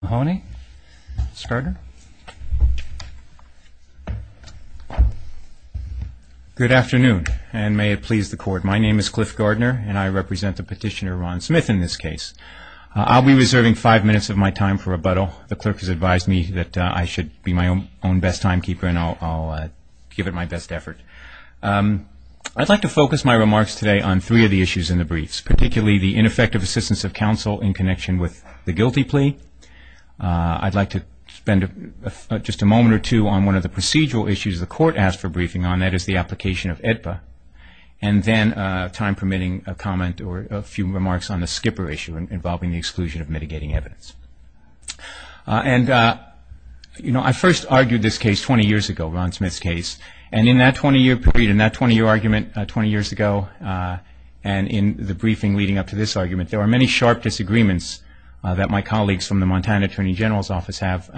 Good afternoon and may it please the court. My name is Cliff Gardner and I represent the petitioner Ron Smith in this case. I'll be reserving five minutes of my time for rebuttal. The clerk has advised me that I should be my own best timekeeper and I'll give it my best effort. I'd like to focus my remarks today on three of the issues in the briefs, particularly the ineffective assistance of counsel in connection with the guilty plea. I'd like to spend just a moment or two on one of the procedural issues the court asked for briefing on, that is the application of AEDPA, and then, time permitting, a comment or a few remarks on the skipper issue involving the exclusion of mitigating evidence. I first argued this case 20 years ago, Ron Smith's case, and in that 20-year period, 20 years ago, and in the briefing leading up to this argument, there were many sharp disagreements that my colleagues from the Montana Attorney General's Office have,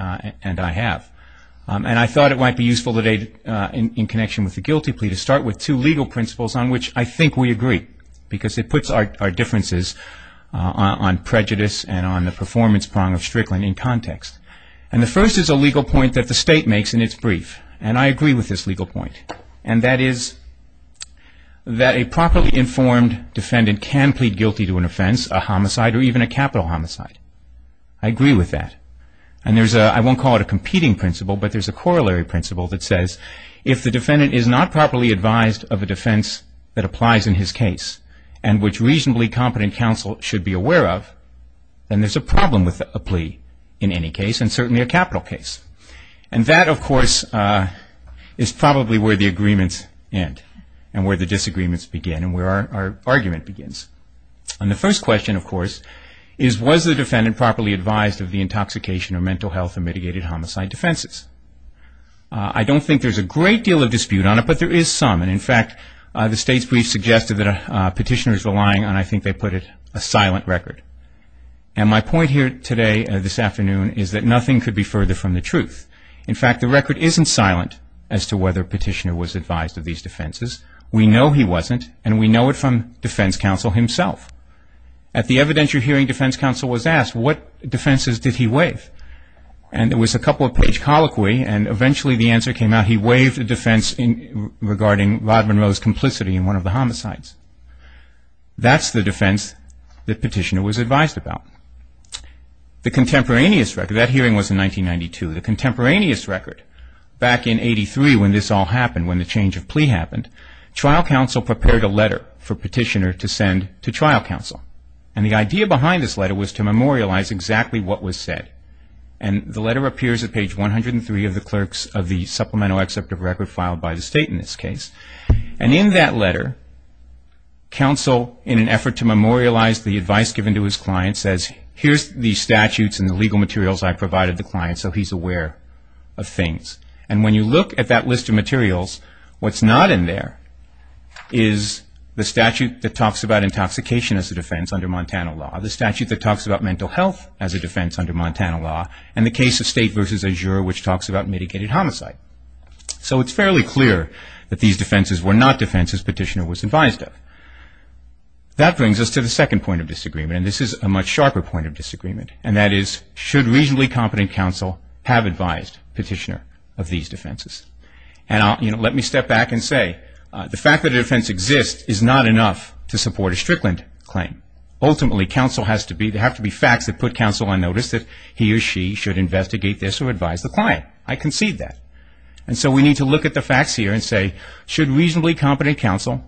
and I have. I thought it might be useful today, in connection with the guilty plea, to start with two legal principles on which I think we agree, because it puts our differences on prejudice and on the performance prong of Strickland in context. The first is a legal point that the state makes in its brief, and I agree with this legal point, and that is that a properly informed defendant can plead guilty to an offense, a homicide, or even a capital homicide. I agree with that. And there's a, I won't call it a competing principle, but there's a corollary principle that says, if the defendant is not properly advised of a defense that applies in his case, and which reasonably competent counsel should be aware of, then there's a problem with a plea, in any case, and certainly a capital case. And that, of course, is probably where the agreements end, and where the disagreements begin, and where our argument begins. And the first question, of course, is was the defendant properly advised of the intoxication or mental health of mitigated homicide defenses? I don't think there's a great deal of dispute on it, but there is some, and in fact, the state's brief suggested that a petitioner is relying on, I think they put it, a silent record. And my point here today, this afternoon, is that nothing could be further from the truth. In fact, the record isn't silent as to whether a petitioner was advised of these defenses. We know he wasn't, and we know it from defense counsel himself. At the evidentiary hearing, defense counsel was asked, what defenses did he waive? And it was a couple-page colloquy, and eventually the answer came out, he waived a defense regarding Rod Monroe's complicity in one of the homicides. That's the defense that petitioner was advised about. The contemporaneous record, that hearing was in 1992, the contemporaneous record, back in 83 when this all happened, when the change of plea happened, trial counsel prepared a letter for petitioner to send to trial counsel. And the idea behind this letter was to memorialize exactly what was said. And the letter appears at page 103 of the clerks of the supplemental except of record filed by the state in this case. And in that memorialized, the advice given to his client says, here's the statutes and the legal materials I provided the client so he's aware of things. And when you look at that list of materials, what's not in there is the statute that talks about intoxication as a defense under Montana law, the statute that talks about mental health as a defense under Montana law, and the case of state versus azure which talks about mitigated homicide. So it's fairly clear that these the second point of disagreement. And this is a much sharper point of disagreement. And that is, should reasonably competent counsel have advised petitioner of these defenses? And let me step back and say, the fact that a defense exists is not enough to support a Strickland claim. Ultimately, counsel has to be, there have to be facts that put counsel on notice that he or she should investigate this or advise the client. I concede that. And so we need to look at the facts here and say, should reasonably competent counsel,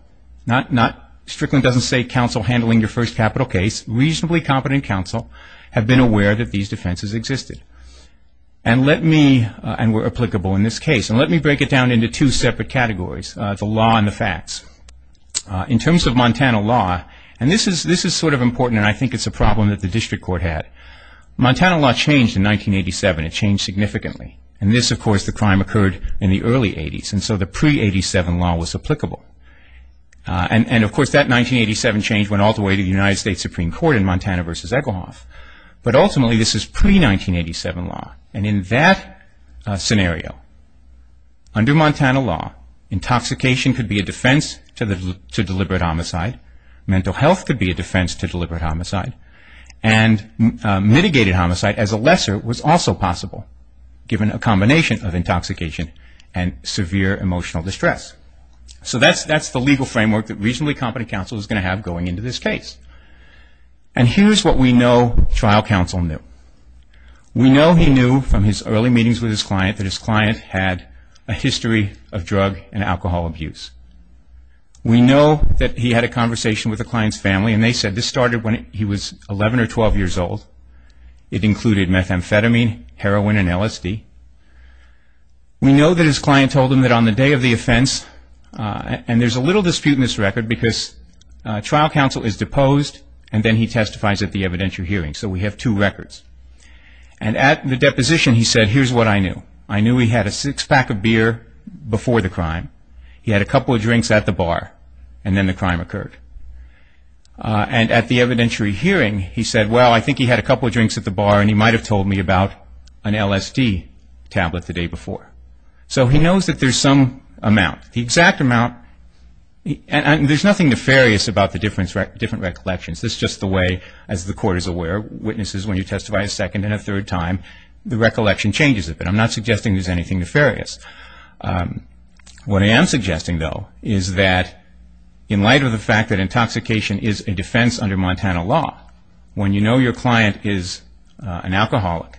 Strickland doesn't say counsel handling your first capital case, reasonably competent counsel have been aware that these defenses existed and were applicable in this case. And let me break it down into two separate categories, the law and the facts. In terms of Montana law, and this is sort of important and I think it's a problem that the district court had. Montana law changed in 1987. It changed significantly. And this, of course, the crime occurred in the early 80s. And so the pre-87 law was applicable. And of course that 1987 change went all the way to the United States Supreme Court in Montana v. Egelhoff. But ultimately this is pre-1987 law. And in that scenario, under Montana law, intoxication could be a defense to deliberate homicide. Mental health could be a defense to deliberate homicide. And mitigated homicide as a lesser was also possible given a combination of intoxication and severe emotional distress. So that's the legal framework that reasonably competent counsel is going to have going into this case. And here's what we know trial counsel knew. We know he knew from his early meetings with his client that his client had a history of drug and alcohol abuse. We know that he had a conversation with the client's family and they said this started when he was 11 or 12 years old. It included methamphetamine, heroin, and LSD. We know that his client told him that on the day of the offense, and there's a little dispute in this record because trial counsel is deposed and then he testifies at the evidentiary hearing. So we have two records. And at the deposition he said, here's what I knew. I knew he had a six pack of beer before the crime. He had a couple of drinks at the bar. And at the evidentiary hearing he said, well, I think he had a couple of drinks at the bar and he might have told me about an LSD tablet the day before. So he knows that there's some amount. The exact amount, and there's nothing nefarious about the different recollections. This is just the way, as the court is aware, witnesses when you testify a second and a third time, the recollection changes a bit. I'm not suggesting there's anything nefarious. What I am suggesting, though, is that in light of the fact that the defense under Montana law, when you know your client is an alcoholic,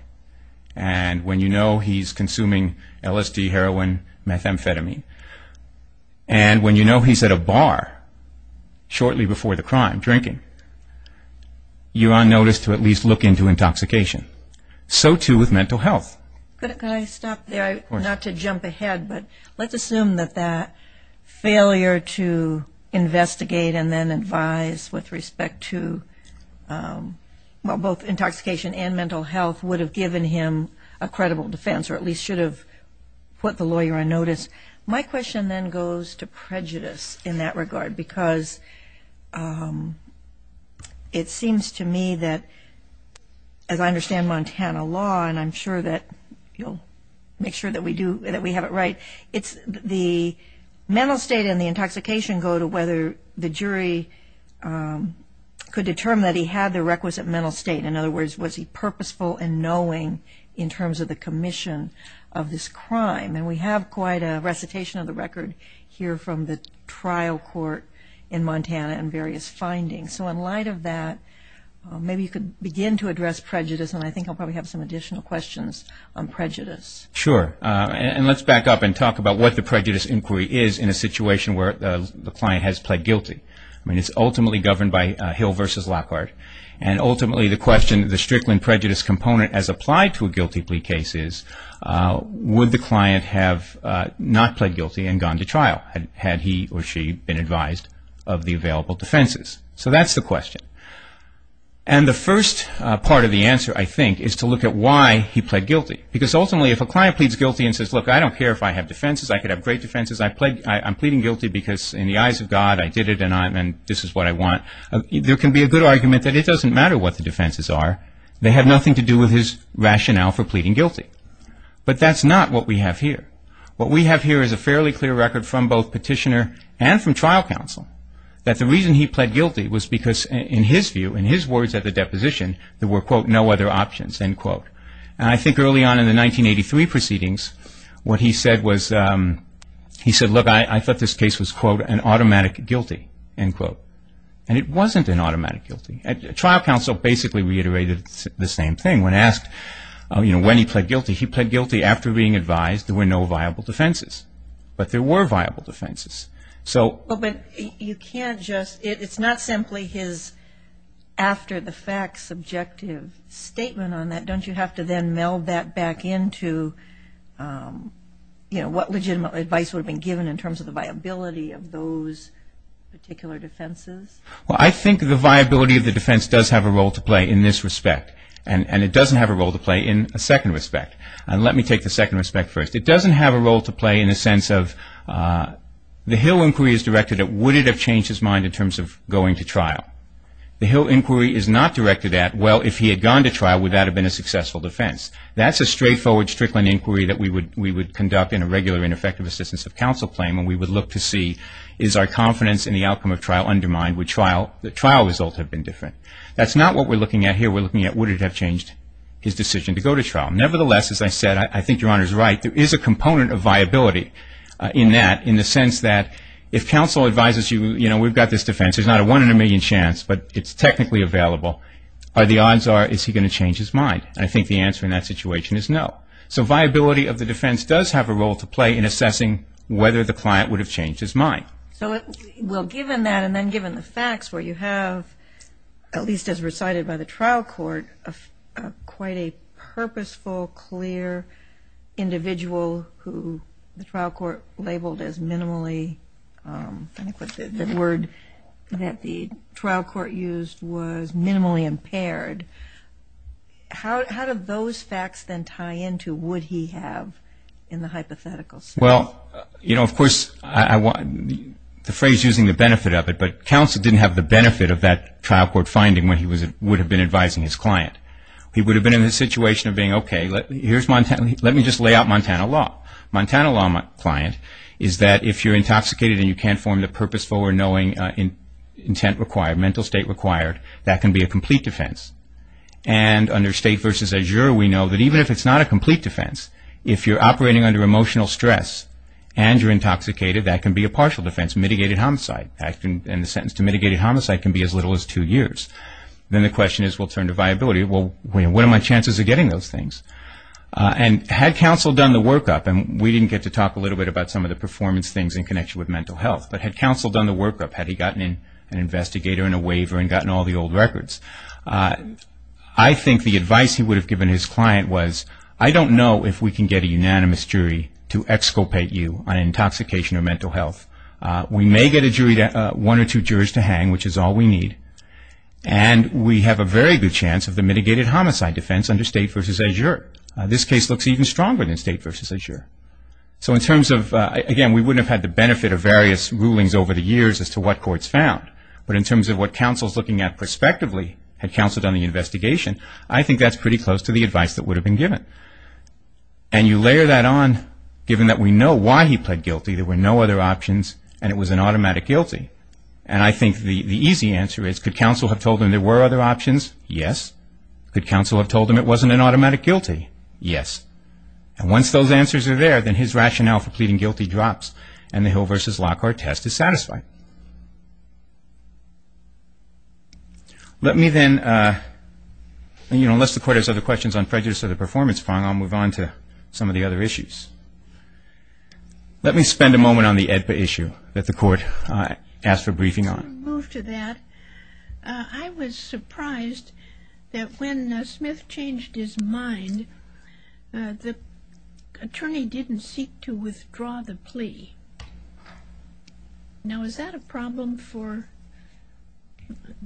and when you know he's consuming LSD, heroin, methamphetamine, and when you know he's at a bar shortly before the crime drinking, you are noticed to at least look into intoxication. So too with mental health. Can I stop there, not to jump ahead, but let's assume that that failure to investigate and then advise with respect to both intoxication and mental health would have given him a credible defense or at least should have put the lawyer on notice. My question then goes to prejudice in that regard because it seems to me that, as I understand Montana law, and I'm sure that you'll make sure that we have it right, it's the mental state and the intoxication go to whether the jury could determine that he had the requisite mental state. In other words, was he purposeful in knowing in terms of the commission of this crime? And we have quite a recitation of the record here from the trial court in Montana and various findings. So in light of that, maybe you could begin to address prejudice and I think I'll probably have some additional questions on prejudice. Sure. And let's back up and talk about what the prejudice inquiry is in a situation where the client has pled guilty. I mean, it's ultimately governed by Hill v. Lockhart and ultimately the question, the Strickland prejudice component as applied to a guilty plea case is, would the client have not pled guilty and gone to trial had he or she been advised of the available defenses? So that's the question. And the first part of the answer, I think, is to look at why he pled guilty because ultimately if a client pleads guilty and says, look, I don't care if I have defenses, I could have pleaded guilty because in the eyes of God, I did it and this is what I want, there can be a good argument that it doesn't matter what the defenses are. They have nothing to do with his rationale for pleading guilty. But that's not what we have here. What we have here is a fairly clear record from both petitioner and from trial counsel that the reason he pled guilty was because in his view, in his words at the deposition, there were, quote, no other options, end quote. And I thought this case was, quote, an automatic guilty, end quote. And it wasn't an automatic guilty. Trial counsel basically reiterated the same thing. When asked, you know, when he pled guilty, he pled guilty after being advised there were no viable defenses. But there were viable defenses. So But you can't just, it's not simply his after the fact subjective statement on that. Don't you have to then meld that back into, you know, what legitimate advice would have been given in terms of the viability of those particular defenses? Well, I think the viability of the defense does have a role to play in this respect. And it doesn't have a role to play in a second respect. And let me take the second respect first. It doesn't have a role to play in a sense of the Hill inquiry is directed at would it have changed his mind in terms of going to trial? The Hill inquiry is not directed at well, if he had gone to trial, would that have been a successful defense? That's a straightforward Strickland inquiry that we would conduct in a regular ineffective assistance of counsel claim and we would look to see is our confidence in the outcome of trial undermined? Would the trial result have been different? That's not what we're looking at here. We're looking at would it have changed his decision to go to trial? Nevertheless, as I said, I think Your Honor is right. There is a component of viability in that, in the sense that if counsel advises you, you know, we've got this defense. There's not a one in a million chance, but it's technically available. The odds are, is he going to change his mind? I think the answer to that situation is no. So viability of the defense does have a role to play in assessing whether the client would have changed his mind. So, well, given that and then given the facts where you have, at least as recited by the trial court, quite a purposeful, clear individual who the trial court labeled as minimally, I think the word that the trial court used was minimally impaired. How do those facts then tie into would he have in the hypothetical sense? Well, you know, of course, the phrase using the benefit of it, but counsel didn't have the benefit of that trial court finding when he would have been advising his client. He would have been in the situation of being, okay, let me just lay out Montana law. Montana law client is that if you're intoxicated and you can't form the purposeful or knowing intent required, mental state required, that can be a complete defense. And under state versus juror, we know that even if it's not a complete defense, if you're operating under emotional stress and you're intoxicated, that can be a partial defense. Mitigated homicide, acting in the sentence to mitigated homicide can be as little as two years. Then the question is, we'll turn to viability. Well, what are my chances of getting those things? And had counsel done the workup, and we didn't get to talk a little bit about some of the performance things in connection with mental health, but had counsel done the workup, had he gotten an investigator and a waiver and gotten all the old records, I think the perspective in his client was, I don't know if we can get a unanimous jury to exculpate you on intoxication or mental health. We may get one or two jurors to hang, which is all we need. And we have a very good chance of the mitigated homicide defense under state versus a juror. This case looks even stronger than state versus a juror. So in terms of, again, we wouldn't have had the benefit of various rulings over the years as to what courts found. But in terms of what counsel is looking at prospectively, had counsel pretty close to the advice that would have been given. And you layer that on, given that we know why he pled guilty, there were no other options, and it was an automatic guilty. And I think the easy answer is, could counsel have told him there were other options? Yes. Could counsel have told him it wasn't an automatic guilty? Yes. And once those answers are there, then his rationale for pleading guilty drops, and the Hill versus Lockhart test is satisfied. Let me then, you know, unless the court has other questions on prejudice or the performance fund, I'll move on to some of the other issues. Let me spend a moment on the AEDPA issue that the court asked for briefing on. Let's move to that. I was surprised that when Smith changed his mind, the attorney didn't seek to withdraw the plea. Now, is that a problem for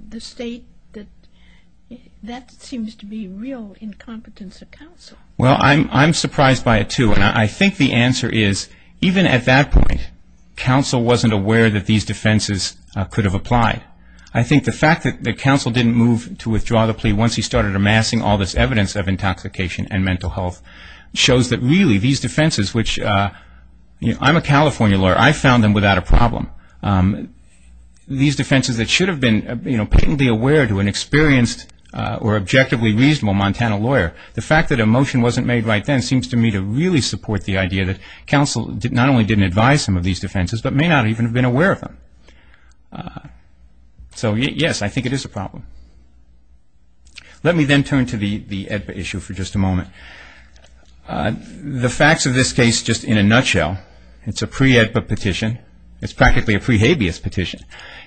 the state? That seems to be real incompetence of counsel. Well, I'm surprised by it, too. And I think the answer is, even at that point, counsel wasn't aware that these defenses could have applied. I think the fact that counsel didn't move to withdraw the plea once he started amassing all this evidence of intoxication and mental health shows that really these defenses, which, you know, I'm a California lawyer. I found them without a problem. These defenses that should have been patently aware to an experienced or objectively reasonable Montana lawyer, the fact that a motion wasn't made right then seems to me to really support the idea that counsel not only didn't advise some of these defenses, but may not even have been aware of them. So, yes, I think it is a problem. Let me then turn to the AEDPA issue for just a moment. The facts of this case, just in a nutshell, it's a pre-AEDPA petition. It's practically a pre-habeas petition.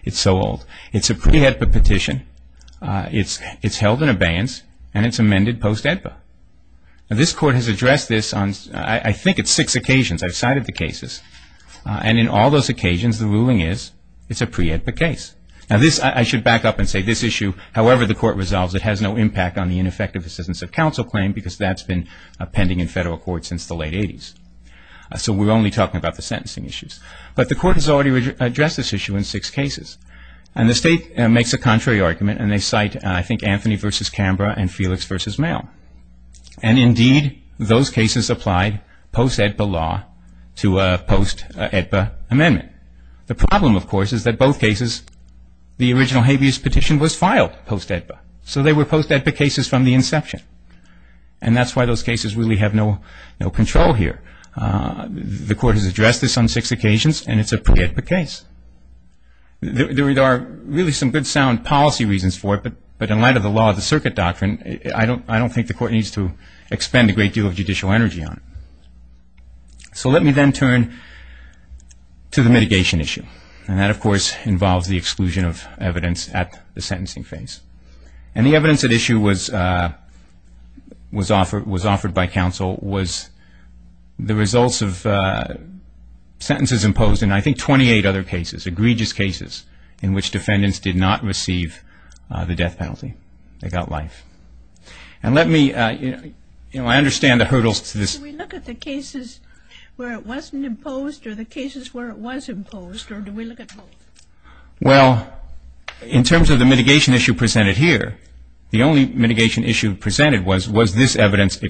It's so old. It's a pre-AEDPA petition. It's held in abeyance and it's amended post-AEDPA. Now, this court has addressed this on, I think, it's six occasions. I've cited the cases. And in all those occasions, the ruling is it's a pre-AEDPA case. Now, this, I should back up and say, this issue, however the court resolves, it has no impact on the ineffective assistance of counsel claim because that's been pending in federal court since the late 80s. So we're only talking about the sentencing issues. But the court has already addressed this issue in six cases. And the state makes a contrary argument and they cite, I think, Anthony v. Canberra and Felix v. Mayo. And indeed, those cases applied post-AEDPA law to a post-AEDPA amendment. The problem, of course, is that in both cases, the original habeas petition was filed post-AEDPA. So they were post-AEDPA cases from the inception. And that's why those cases really have no control here. The court has addressed this on six occasions and it's a pre-AEDPA case. There are really some good sound policy reasons for it. But in light of the law of the circuit doctrine, I don't think the court needs to expend a great deal of judicial energy on it. So let me then turn to the mitigation issue. And that, of course, involves the exclusion of evidence at the sentencing phase. And the evidence at issue was offered by counsel was the results of sentences imposed in, I think, 28 other cases, egregious cases, in which defendants did not receive the death penalty. They got life. And let me, you know, I understand the hurdles to this. Do we look at the cases where it wasn't imposed or the cases where it was imposed, or do we look at both? Well, in terms of the mitigation issue presented here, the only mitigation issue presented was was this evidence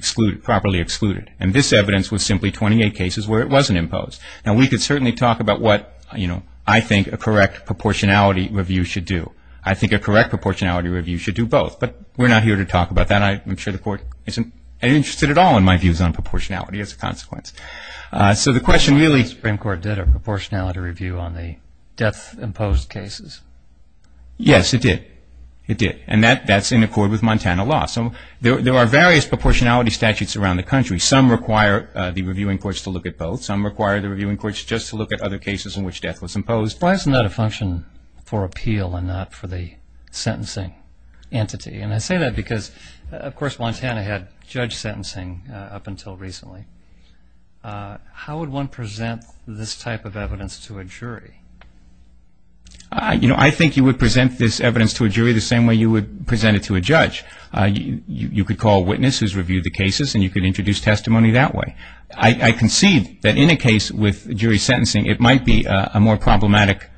properly excluded. And this evidence was simply 28 cases where it wasn't imposed. Now, we could certainly talk about what, you know, I think a correct proportionality review should do. I think a correct proportionality review should do both. But we're not here to talk about that. I'm sure the court isn't interested at all in my views on proportionality as a consequence. So the question really- The Supreme Court did a proportionality review on the death-imposed cases. Yes, it did. It did. And that's in accord with Montana law. So there are various proportionality statutes around the country. Some require the reviewing courts to look at both. Some require the reviewing courts just to look at other cases in which death was imposed. Why isn't that a function for appeal and not for the sentencing entity? And I say that because, of course, Montana had judge sentencing up until recently. How would one present this type of evidence to a jury? You know, I think you would present this evidence to a jury the same way you would present it to a judge. You could call a witness who's reviewed the cases, and you could introduce testimony that way. I concede that in a case with jury sentencing, it might be a more problematic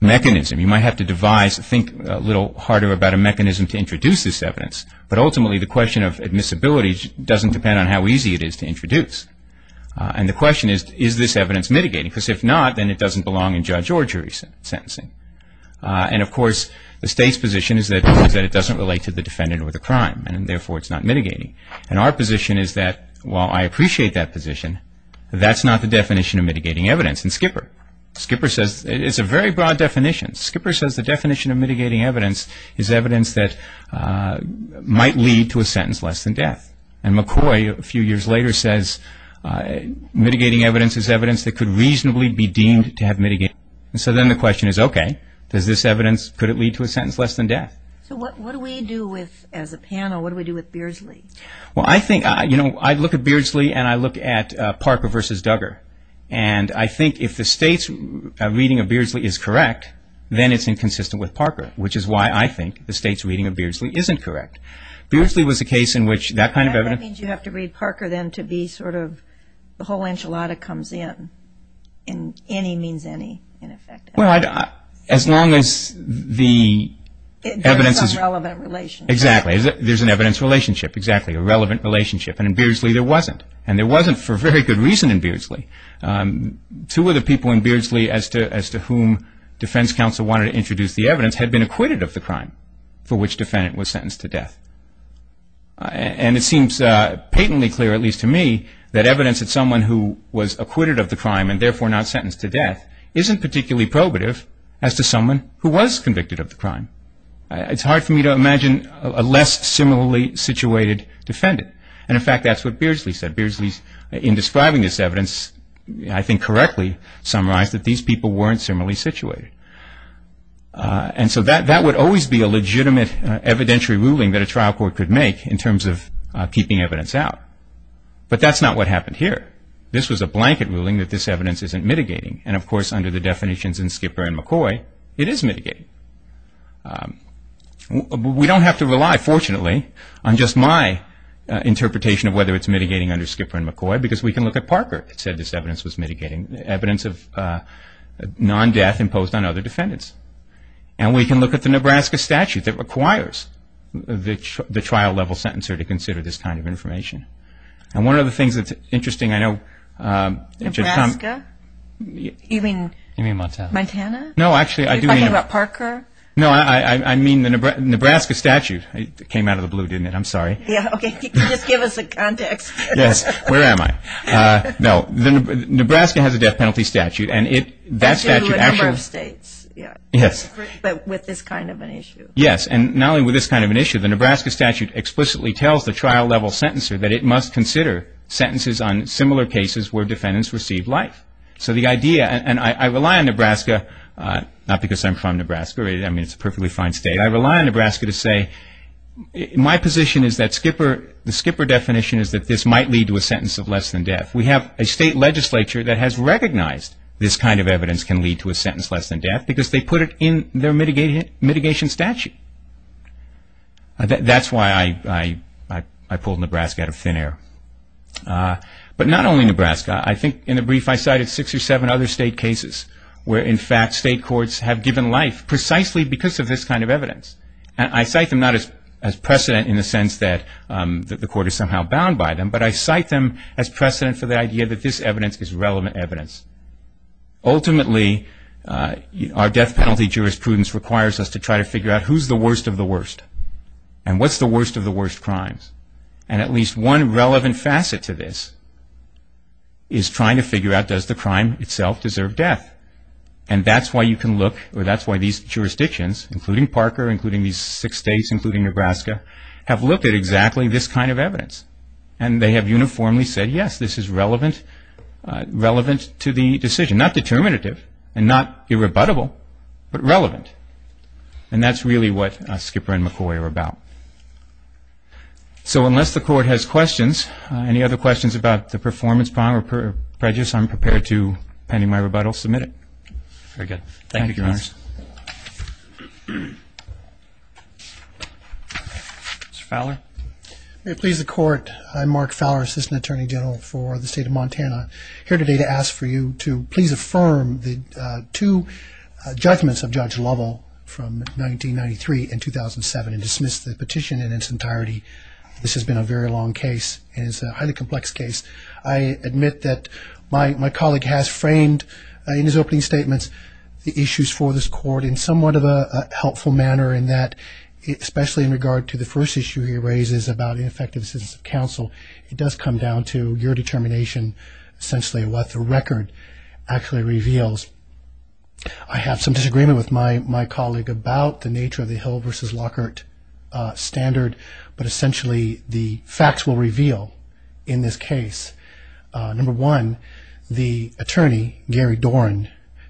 mechanism. You might have to devise, think a little harder about a mechanism to introduce this evidence. But ultimately, the question of admissibility doesn't depend on how easy it is to introduce. And the question is, is this evidence mitigating? Because if not, then it doesn't belong in judge or jury sentencing. And of course, the state's position is that it doesn't relate to the defendant or the crime, and therefore it's not mitigating. And our position is that, while I appreciate that position, that's not the definition of mitigating evidence. It's a very broad definition. Skipper says the definition of mitigating evidence is evidence that might lead to a sentence less than death. And McCoy, a few years later, says mitigating evidence is evidence that could reasonably be deemed to have mitigated. So then the question is, okay, does this evidence, could it lead to a sentence less than death? So what do we do with, as a panel, what do we do with Beardsley? Well, I think, you know, I look at Beardsley, and I look at Parker v. Duggar. And I think if the state's reading of Beardsley is correct, then it's inconsistent with Parker, which is why I think the state's reading of Beardsley isn't correct. Beardsley was a case in which that kind of evidence... And that means you have to read Parker, then, to be sort of, the whole enchilada comes in, in any means any, in effect. Well, as long as the evidence is... There is a relevant relationship. Exactly. There's an evidence relationship, exactly, a relevant relationship. And in Beardsley, there wasn't. And there wasn't for very good reason in Beardsley. Two of the people in Beardsley as to whom defense counsel wanted to introduce the evidence had been acquitted of the crime for which the defendant was sentenced to death. And it seems patently clear, at least to me, that evidence that someone who was acquitted of the crime, and therefore not sentenced to death, isn't particularly probative as to someone who was convicted of the crime. It's hard for me to imagine a less similarly situated defendant. And, in fact, that's what Beardsley said. Beardsley, in describing this evidence, I think correctly summarized that these people weren't similarly situated. And so that would always be a legitimate evidentiary ruling that a trial court could make in terms of keeping evidence out. But that's not what happened here. This was a blanket ruling that this evidence isn't mitigating. And, of course, under the definitions in Skipper and McCoy, it is mitigating. We don't have to rely, fortunately, on just my interpretation of whether it's mitigating under Skipper and McCoy, because we can look at Parker, who said this evidence was mitigating evidence of non-death imposed on other defendants. And we can look at the Nebraska statute that requires the trial-level sentencer to consider this kind of information. And one of the things that's interesting, I know... Nebraska? You mean... You mean Montana. Montana? No, actually, I do mean... Are you talking about Parker? No, I mean the Nebraska statute. It came out of the blue, didn't it? I'm sorry. Yeah, okay, just give us a context. Yes, where am I? No, Nebraska has a death penalty statute, and that statute actually... They do in a number of states, yeah. Yes. But with this kind of an issue. Yes, and not only with this kind of an issue, the Nebraska statute explicitly tells the trial-level sentencer that it must consider sentences on similar cases where defendants received life. So the idea, and I rely on Nebraska, not because I'm from Nebraska, I mean it's a perfectly fine state, I rely on Nebraska to say, my position is that Skipper, the Skipper definition is that this might lead to a sentence of less than death. We have a state legislature that has recognized this kind of evidence can lead to a sentence less than death because they put it in their mitigation statute. That's why I pulled Nebraska out of thin air. But not only Nebraska, I think in the brief I cited six or seven other state cases where in fact state courts have given life precisely because of this kind of evidence. I cite them not as precedent in the sense that the court is somehow bound by them, but I cite them as precedent for the idea that this evidence is relevant evidence. Ultimately, our death penalty jurisprudence requires us to try to figure out who's the relevant facet to this is trying to figure out does the crime itself deserve death. And that's why you can look, or that's why these jurisdictions, including Parker, including these six states, including Nebraska, have looked at exactly this kind of evidence. And they have uniformly said yes, this is relevant to the decision. Not determinative and not irrebuttable, but relevant. And that's really what Skipper and McCoy are about. So unless the court has questions, any other questions about the performance bond or prejudice, I'm prepared to, pending my rebuttal, submit it. Very good. Thank you, Your Honors. Mr. Fowler? May it please the Court, I'm Mark Fowler, Assistant Attorney General for the State of Montana, here today to ask for you to please affirm the two judgments of Judge Lovell from 1993 and 2007 and dismiss the petition in its entirety. This has been a very long case and it's a highly complex case. I admit that my colleague has framed in his opening statements the issues for this court in somewhat of a helpful manner in that, especially in regard to the first issue he raises about ineffective assistance of counsel, it does come down to your determination, essentially what the record actually reveals. I have some questions for my colleague about the nature of the Hill v. Lockhart standard, but essentially the facts will reveal in this case. Number one, the attorney, Gary Dorn,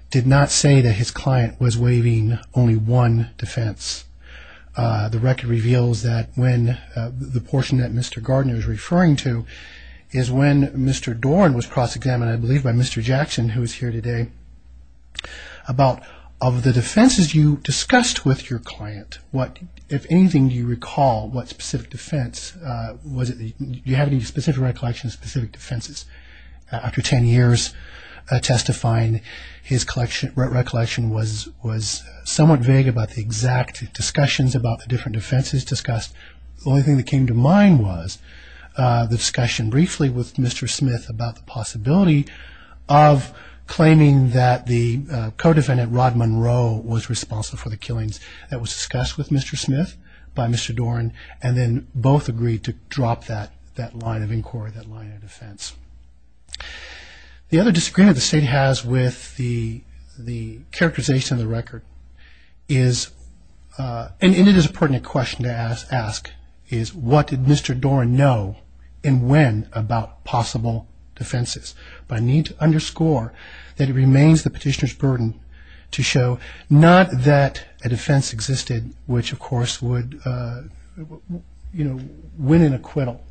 did not say that his client was waiving only one defense. The record reveals that when the portion that Mr. Gardner is referring to is when Mr. Dorn was cross-examined, I believe, by Mr. Jackson, who is here today, about of the defenses you discussed with your client, if anything, do you recall what specific defense? Do you have any specific recollections of specific defenses? After 10 years testifying, his recollection was somewhat vague about the exact discussions about the different defenses discussed. The only thing that came to mind was the discussion briefly with Mr. Smith about the possibility of claiming that the co-defendant, Rod Monroe, was responsible for the killings that was discussed with Mr. Smith by Mr. Dorn, and then both agreed to drop that line of inquiry, that line of defense. The other disagreement the State has with the characterization of the record is, and it is a pertinent question to ask, is what did Mr. Dorn know and when about possible defenses? But I need to underscore that it remains the petitioner's burden to show not that a defense existed which, of course, would win an acquittal.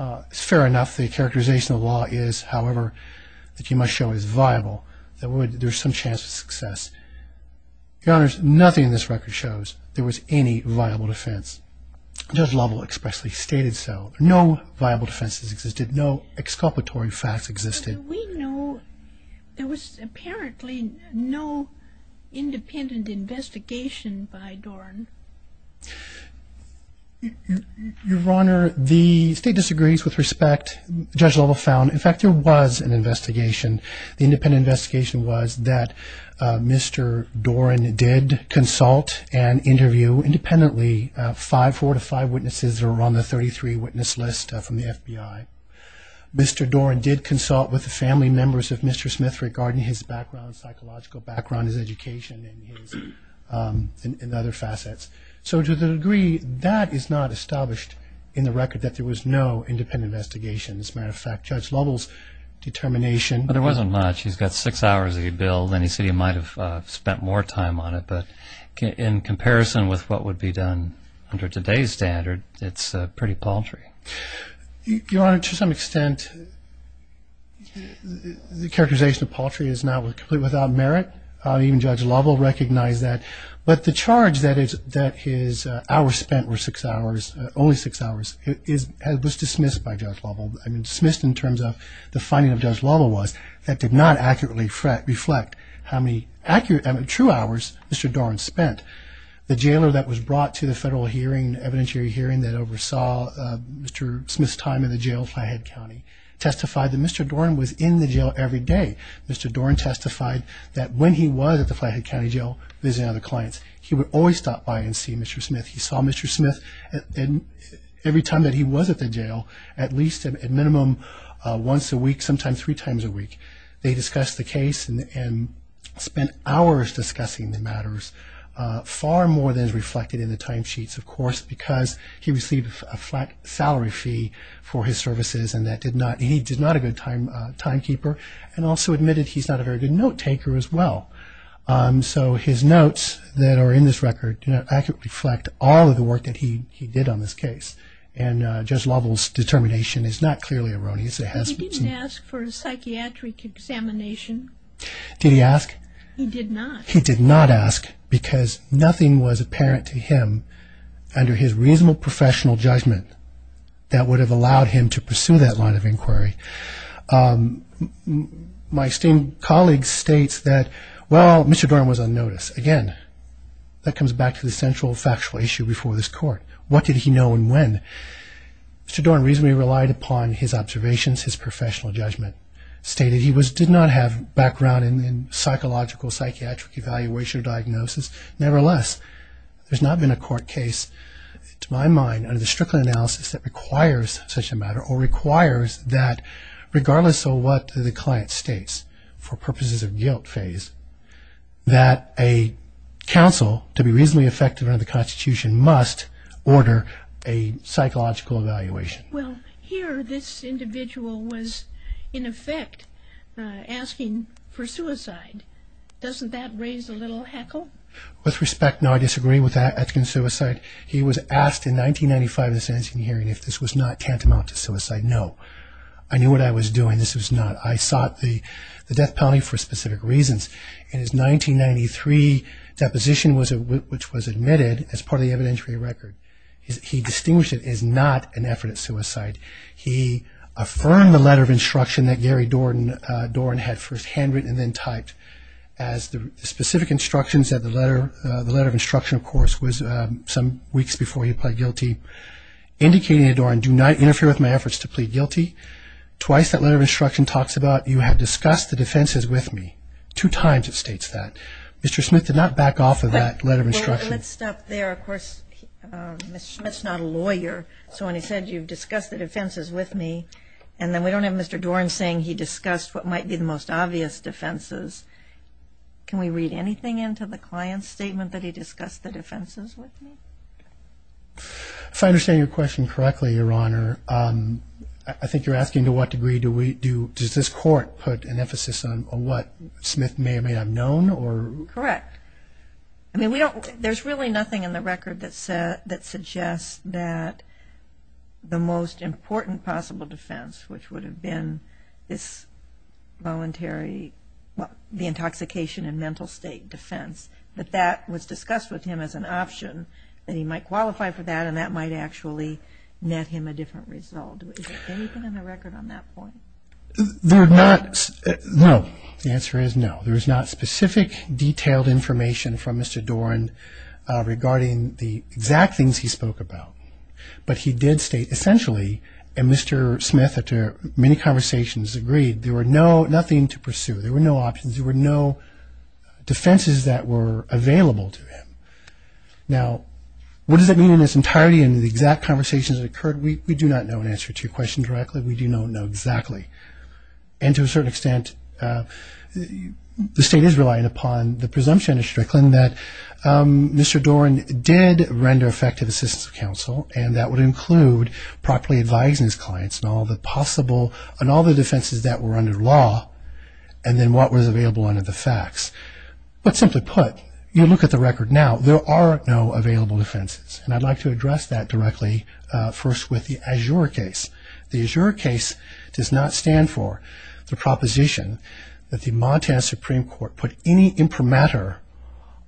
It's fair enough the characterization of the law is, however, that you must show is viable, that there's some chance of success. Your Honor, there's nothing this record shows there was any viable defense. Judge Lovell expressly stated so. No viable defenses existed. No exculpatory facts existed. But do we know there was apparently no independent investigation by Dorn? Your Honor, the State disagrees with respect. Judge Lovell found, in fact, there was an investigation. The independent investigation was that Mr. Dorn did consult and interview independently five, four to five witnesses that were on the 33 witness list from the FBI. Mr. Dorn did consult with the family members of Mr. Smith regarding his background, psychological background, his education, and other facets. So to the degree that is not established in the record that there was no independent investigation. As a matter of fact, Judge Lovell's determination... he said he might have spent more time on it. But in comparison with what would be done under today's standard, it's pretty paltry. Your Honor, to some extent, the characterization of paltry is not complete without merit. Even Judge Lovell recognized that. But the charge that his hours spent were six hours, only six hours, was dismissed by Judge Lovell. Dismissed in terms of the finding of Judge Lovell was that did not accurately reflect how many true hours Mr. Dorn spent. The jailer that was brought to the federal hearing, evidentiary hearing, that oversaw Mr. Smith's time in the jail in Flathead County testified that Mr. Dorn was in the jail every day. Mr. Dorn testified that when he was at the Flathead County Jail visiting other clients, he would always stop by and see Mr. Smith. He saw Mr. Minimum once a week, sometimes three times a week. They discussed the case and spent hours discussing the matters, far more than is reflected in the timesheets, of course, because he received a flat salary fee for his services and he did not a good timekeeper and also admitted he's not a very good note-taker as well. So his notes that are in this record do not accurately reflect all of the work that he did on this case. And Judge Lovell's determination is not clearly erroneous. He didn't ask for a psychiatric examination. Did he ask? He did not. He did not ask because nothing was apparent to him under his reasonable professional judgment that would have allowed him to pursue that line of inquiry. My esteemed colleague states that, well, Mr. Dorn was on notice. Again, that comes back to the central factual issue before this court. What did he know and when? Mr. Dorn reasonably relied upon his observations, his professional judgment, stated he did not have background in psychological, psychiatric evaluation or diagnosis. Nevertheless, there's not been a court case, to my mind, under the Strickland analysis that requires such a matter or requires that, regardless of what the client states, for purposes of guilt phase, that a counsel, to be reasonably effective under the Constitution, must order a psychological evaluation. Well, here this individual was, in effect, asking for suicide. Doesn't that raise a little heckle? With respect, no, I disagree with that, asking for suicide. He was asked in 1995 in the sentencing hearing if this was not tantamount to suicide. No. I knew what I was doing. This was not. I sought the death penalty for specific reasons. In his 1993 deposition, which was admitted as part of the evidentiary record, he distinguished it as not an effort at suicide. He affirmed the letter of instruction that Gary Dorn had first handwritten and then typed as the specific instructions of the letter, the letter of instruction, of course, was some weeks before he pled guilty, indicating to Dorn, do not interfere with my efforts to plead guilty. Twice that letter of instruction talks about you have discussed the defenses with me. Two times it states that. Mr. Smith did not back off of that letter of instruction. Well, let's stop there. Of course, Mr. Smith's not a lawyer, so when he said you've discussed the defenses with me, and then we don't have Mr. Dorn saying he discussed what might be the most obvious defenses. Can we read anything into the client's statement that he discussed the defenses with me? If I understand your question correctly, Your Honor, I think you're asking to what degree do we do, does this court put an emphasis on what Smith may or may not have known? Correct. I mean, we don't, there's really nothing in the record that suggests that the most important possible defense, which would have been this voluntary, the intoxication and mental state defense, that that was discussed with him as an option, that he might qualify for that, and that might actually net him a different result. Is there anything in the record on that point? There are not, no. The answer is no. There is not specific, detailed information from Mr. Dorn regarding the exact things he spoke about, but he did state essentially, and Mr. Smith, after many conversations, agreed, there were no, nothing to pursue. There were no defenses that were available to him. Now, what does that mean in its entirety, in the exact conversations that occurred? We do not know an answer to your question directly. We do not know exactly. And to a certain extent, the State is relying upon the presumption of Strickland that Mr. Dorn did render effective assistance to counsel, and that would include properly advising his clients on all the possible, on all the defenses that were under law, and then what was available under the facts. But simply put, you look at the record now, there are no available defenses, and I'd like to address that directly first with the Azure case. The Azure case does not stand for the proposition that the Montana Supreme Court put any imprimatur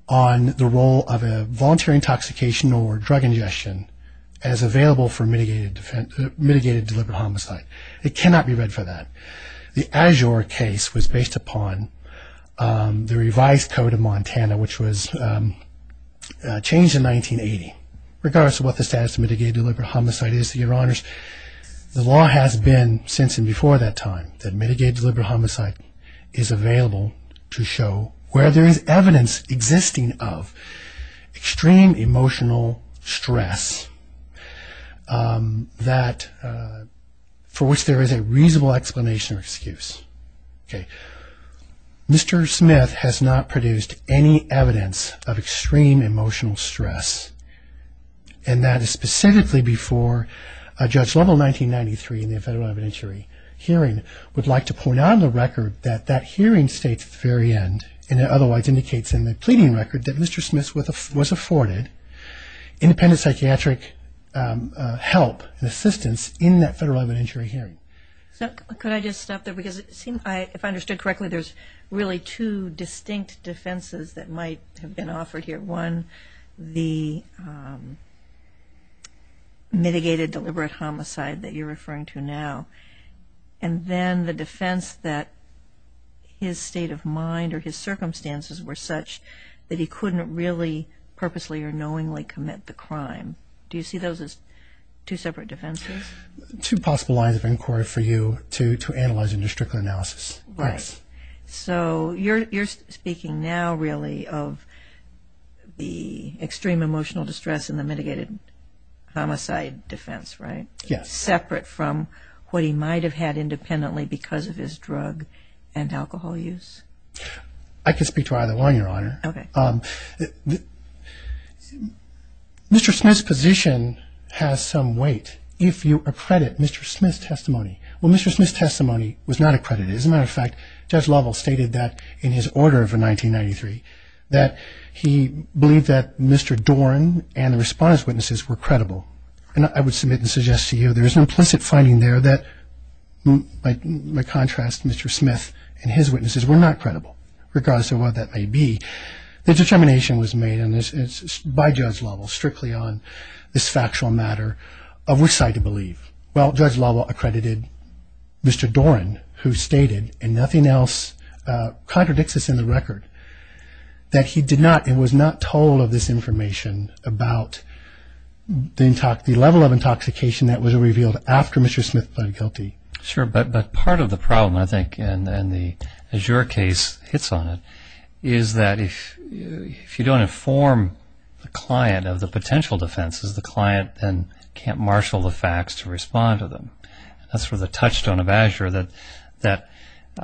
on the role of a voluntary intoxication or drug ingestion as available for mitigated deliberate homicide. It cannot be read for that. The Azure case was based upon the revised code of Montana, which was changed in 1980. Regardless of what the status of mitigated deliberate homicide is, your honors, the law has been, since and before that time, that mitigated deliberate homicide is available to show where there is evidence existing of extreme emotional stress that, for which there is a reasonable explanation or excuse. Okay. Mr. Smith has not produced any evidence of extreme emotional stress, and that is specifically before a judge level 1993 in the federal evidentiary hearing would like to point out on the record that that hearing states at the very end, and it otherwise indicates in the pleading record, that Mr. Smith was afforded independent psychiatric help and assistance in that federal evidentiary hearing. So could I just stop there? Because it seems, if I understood correctly, there's really two distinct defenses that might have been offered here. One, the mitigated deliberate homicide that you're referring to now, and then the defense that his state of mind or his circumstances were such that he couldn't really purposely or knowingly commit the crime. Do you see those as two separate defenses? Two possible lines of inquiry for you to analyze and to strictly analysis. Right. So you're speaking now, really, of the extreme emotional distress and the mitigated homicide defense, right? Yes. Separate from what he might have had independently because of his drug and alcohol use? I could speak to either one, Your Honor. Okay. Mr. Smith's position has some weight if you accredit Mr. Smith's testimony. Well, Mr. Smith's testimony was not accredited. As a matter of fact, Judge Lovell stated that in his order of 1993, that he believed that Mr. Doran and the response witnesses were My contrast, Mr. Smith and his witnesses were not credible, regardless of what that may be. The determination was made by Judge Lovell strictly on this factual matter of which side to believe. Well, Judge Lovell accredited Mr. Doran, who stated, and nothing else contradicts this in the record, that he was not told of this information about the level of intoxication that was revealed after Mr. Smith pled guilty. Sure, but part of the problem, I think, and the Azure case hits on it, is that if you don't inform the client of the potential defenses, the client then can't marshal the facts to respond to them. That's where the touchstone of Azure that,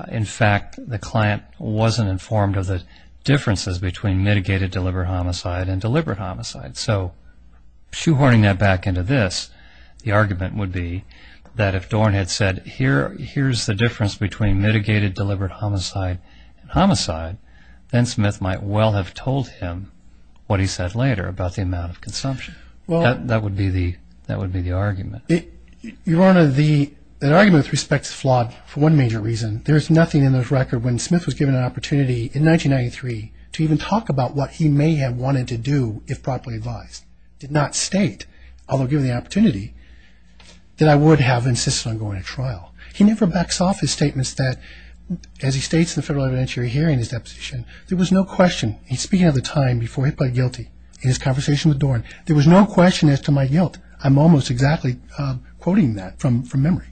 in fact, the client wasn't informed of the differences between mitigated deliberate homicide and deliberate homicide. So shoehorning that back into this, the argument would be that if Doran had said, here's the difference between mitigated deliberate homicide and homicide, then Smith might well have told him what he said later about the amount of consumption. That would be the argument. Your Honor, that argument, with respect, is flawed for one major reason. There's nothing in this record when Smith was given an opportunity in 1993 to even talk about what he may have wanted to do if properly advised. Did not state, although given the opportunity, that I would have insisted on going to trial. He never backs off his statements that, as he states in the federal evidentiary hearing in his deposition, there was no question, he's speaking of the time before he pled guilty in his conversation with Doran, there was no question as to my guilt. I'm almost exactly quoting that from memory.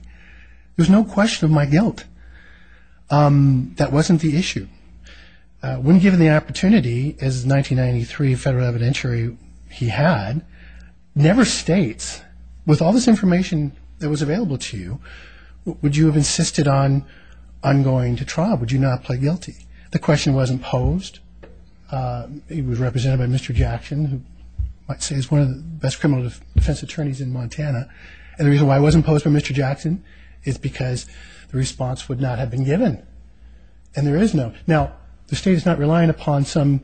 There was no question of my guilt. That wasn't the issue. When given the opportunity, as 1993 federal evidentiary, he had, never states, with all this information that was available to you, would you have insisted on going to trial? Would you not have pled guilty? The question wasn't posed. It was represented by Mr. Jackson, who I'd say is one of the best criminal defense attorneys in Montana. And the reason why it wasn't posed by Mr. Jackson is because the response would not have been given. And there is no... Now, the state is not relying upon some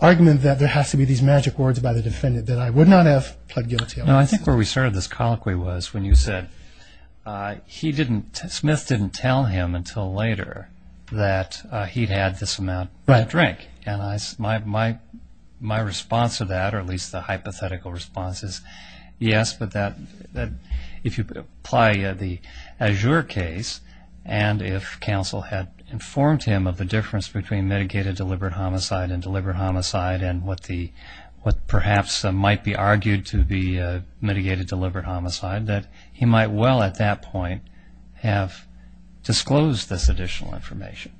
argument that there has to be these magic words by the defendant that I would not have pled guilty. No, I think where we started this colloquy was when you said he didn't, Smith didn't tell him until later that he'd had this amount to drink. And my response to that, or at least the hypothetical response is yes, but if you apply the Azure case, and if counsel had informed him of the difference between mitigated deliberate homicide and deliberate homicide, and what perhaps might be argued to be mitigated deliberate homicide, that he might well, at that point, have disclosed this additional information.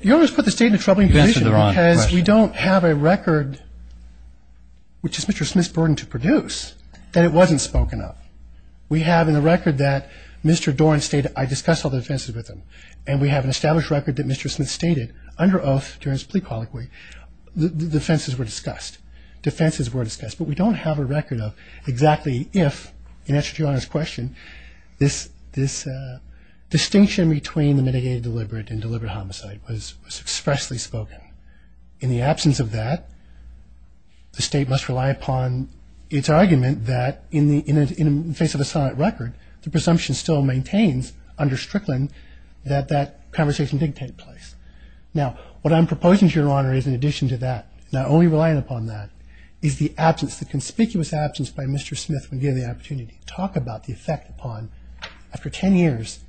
You always put the state in a troubling position because we don't have a record, which is Mr. Smith's burden to produce, that it wasn't spoken of. We have in the record that Mr. Doran stated, I discussed all the offenses with him. And we have an established record that Mr. Smith stated under oath during his plea colloquy, the offenses were discussed. Defenses were discussed. But we don't have a record of exactly if, in answer to your Honor's question, this distinction between the mitigated deliberate and deliberate homicide was expressly spoken. In the absence of that, the state must rely upon its argument that in the face of a solid record, the presumption still maintains under Strickland that that conversation did take place. Now, what I'm proposing to your Honor is in addition to that, not only relying upon that, is the absence, the conspicuous absence by Mr. Smith when given the opportunity to talk about the effect upon, after 10 years,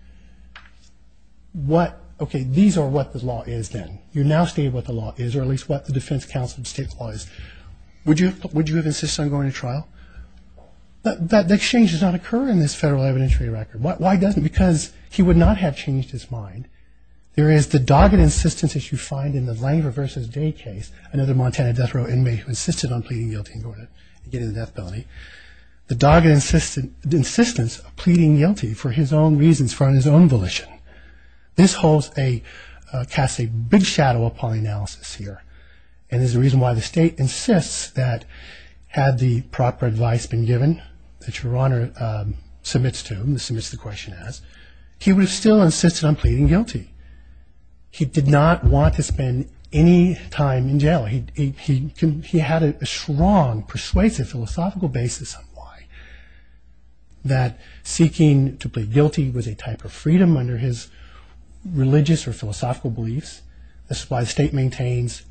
what, okay, these are what the law is then. You're now stating what the law is, or at least what the defense counsel of the state's law is. Would you have insisted on going to trial? That change does not occur in this federal evidentiary record. Why doesn't it? Because he would not have changed his mind. There is the dogged insistence that you find in the Langer v. Day case, another Montana death row inmate who insisted on pleading guilty and going to get into death penalty. The dogged insistence of pleading guilty for his own reasons, for his own volition. This holds a, casts a big shadow upon the analysis here, and is the reason why the state insists that had the proper advice been given that your Honor submits to him, submits the question as, he would have still insisted on pleading guilty. He did not want to spend any time in jail. He had a strong persuasive philosophical basis on why, that seeking to plead guilty was a type of freedom under his religious or philosophical beliefs. This is why the state maintains,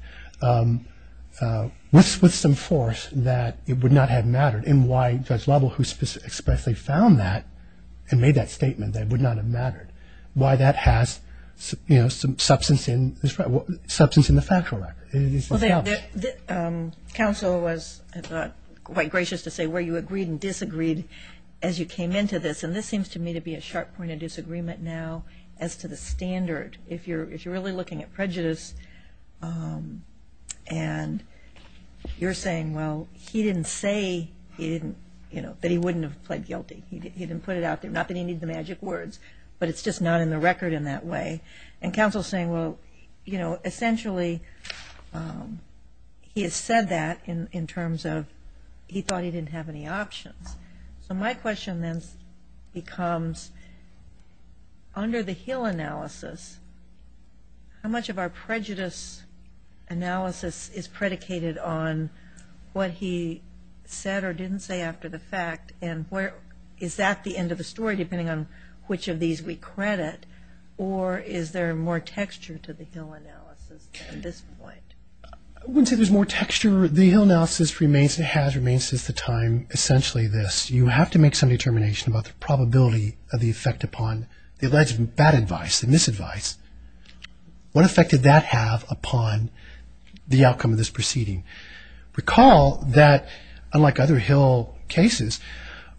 with some force, that it would not have mattered, and why Judge Lovell, who expressly found that and made that statement that it would not have mattered, why that has substance in the factual record. Counsel was, I thought, quite gracious to say where you agreed and disagreed as you came into this, and this seems to me to be a sharp point of disagreement now as to the standard. If you're really looking at prejudice and you're saying, well, he didn't say that he wouldn't have pled guilty. He didn't put it out there. Not that he needed the magic words, but it's just not in the record in that way. And counsel is saying, well, you know, essentially he has said that in terms of he thought he didn't have any options. So my question then becomes, under the Hill analysis, how much of our prejudice analysis is predicated on what he said or didn't say after the fact and is that the end of the story depending on which of these we credit, or is there more texture to the Hill analysis at this point? I wouldn't say there's more texture. The Hill analysis has remained since the time essentially this. You have to make some determination about the probability of the effect upon the alleged bad advice, the misadvice. What effect did that have upon the outcome of this proceeding? Recall that, unlike other Hill cases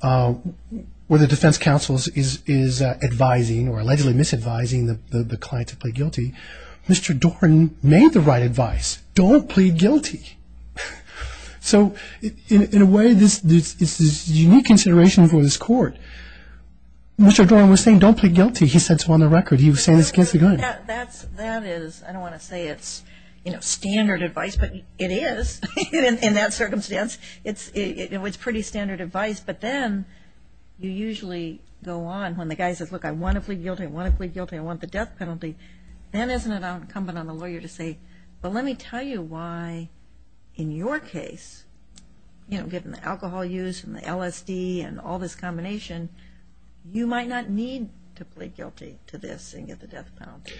where the defense counsel is advising or allegedly misadvising the client to plead guilty, Mr. Doran made the right advice. Don't plead guilty. So in a way, this is unique consideration for this court. Mr. Doran was saying don't plead guilty. He said so on the record. He was saying this against the gun. That is, I don't want to say it's standard advice, but it is in that circumstance. It's pretty standard advice, but then you usually go on when the guy says, look, I want to plead guilty, I want to plead guilty, I want the death penalty, then isn't it incumbent on the lawyer to say, well, let me tell you why in your case, given the alcohol use and the LSD and all this combination, you might not need to plead guilty to this and get the death penalty.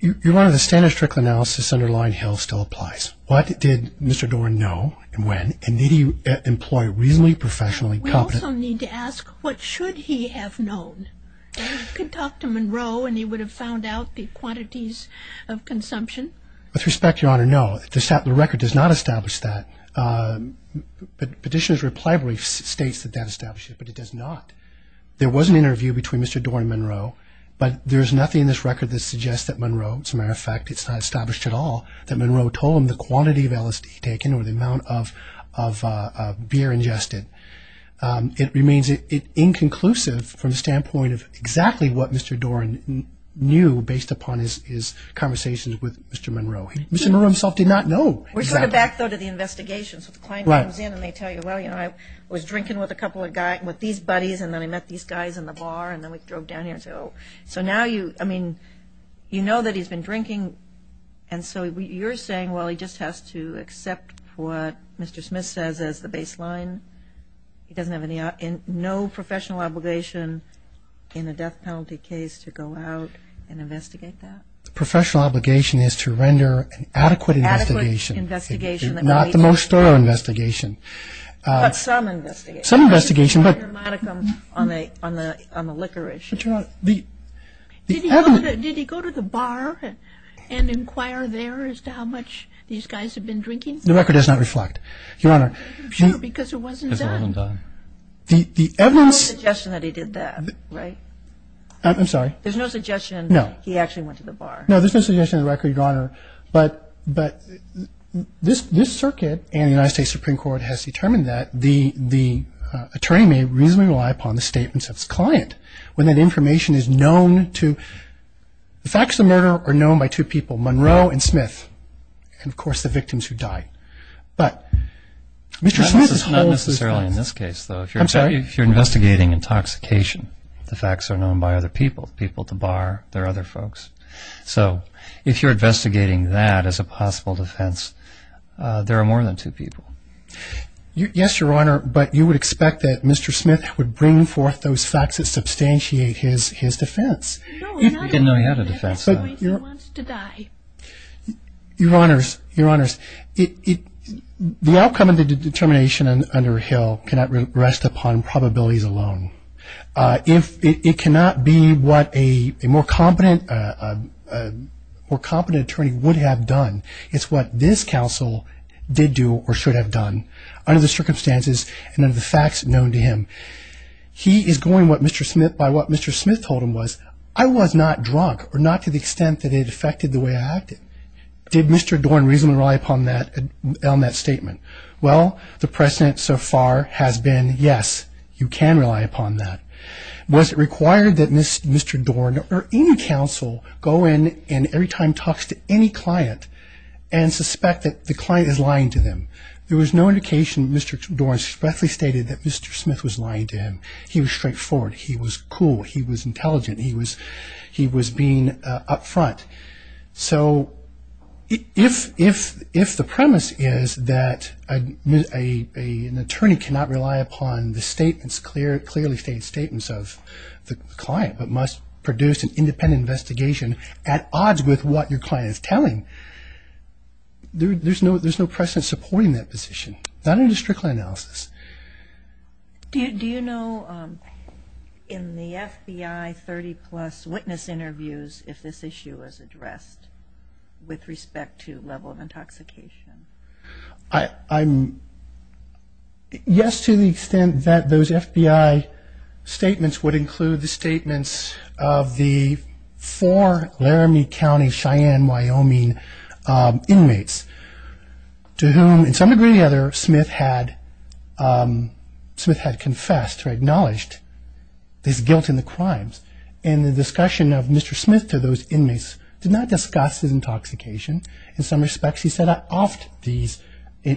Your Honor, the standard stricter analysis underlying Hill still applies. What did Mr. Doran know and when, and did he employ reasonably, professionally competent? We also need to ask what should he have known? He could talk to Monroe and he would have found out the quantities of consumption. With respect, Your Honor, no. The record does not establish that. Petitioner's reply brief states that that establishes it, but it does not. There was an interview between Mr. Doran and Monroe, but there is nothing in this record that suggests that Monroe, as a matter of fact, it's not established at all, that Monroe told him the quantity of LSD taken or the amount of beer ingested. It remains inconclusive from the standpoint of exactly what Mr. Doran knew based upon his conversations with Mr. Monroe. Mr. Monroe himself did not know. We're sort of back, though, to the investigation. So the client comes in and they tell you, well, you know, I was drinking with a couple of guys, with these buddies, and then I met these guys in the bar, and then we drove down here. So now you, I mean, you know that he's been drinking, and so you're saying, well, he just has to accept what Mr. Smith says as the baseline? He doesn't have any, no professional obligation in a death penalty case to go out and investigate that? The professional obligation is to render an adequate investigation. Adequate investigation. Not the most thorough investigation. But some investigation. Some investigation, but. On the liquor issue. The evidence. Did he go to the bar and inquire there as to how much these guys had been drinking? The record does not reflect, Your Honor. Because it wasn't done. Because it wasn't done. The evidence. There's no suggestion that he did that, right? I'm sorry. There's no suggestion. No. He actually went to the bar. No, there's no suggestion on the record, Your Honor. But this circuit and the United States Supreme Court has determined that the attorney may reasonably rely upon the statements of his client when that information is known to, the facts of the murder are known by two people, Monroe and Smith, and, of course, the victims who died. But Mr. Smith's whole. That's not necessarily in this case, though. I'm sorry? If you're investigating intoxication, the facts are known by other people, people at the bar, there are other folks. So if you're investigating that as a possible defense, there are more than two people. Yes, Your Honor, but you would expect that Mr. Smith would bring forth those facts that substantiate his defense. No, he didn't know he had a defense. He wants to die. Your Honors, Your Honors, the outcome of the determination under Hill cannot rest upon probabilities alone. It cannot be what a more competent attorney would have done. It's what this counsel did do or should have done under the circumstances and under the facts known to him. He is going by what Mr. Smith told him was, I was not drunk or not to the extent that it affected the way I acted. Did Mr. Dorn reasonably rely upon that statement? Well, the precedent so far has been yes, you can rely upon that. Was it required that Mr. Dorn or any counsel go in and every time talks to any client and suspect that the client is lying to them? There was no indication that Mr. Dorn swiftly stated that Mr. Smith was lying to him. He was straightforward. He was cool. He was intelligent. He was being upfront. So if the premise is that an attorney cannot rely upon the statements, clearly stated statements of the client but must produce an independent investigation at odds with what your client is telling, there's no precedent supporting that position, not in a district line analysis. Do you know in the FBI 30-plus witness interviews if this issue was addressed with respect to level of intoxication? Yes, to the extent that those FBI statements would include the statements of the four Laramie County, Cheyenne, Wyoming inmates to whom, in some degree or the other, Smith had confessed or acknowledged his guilt in the crimes and the discussion of Mr. Smith to those inmates did not discuss his intoxication. In some respects, he said I offed these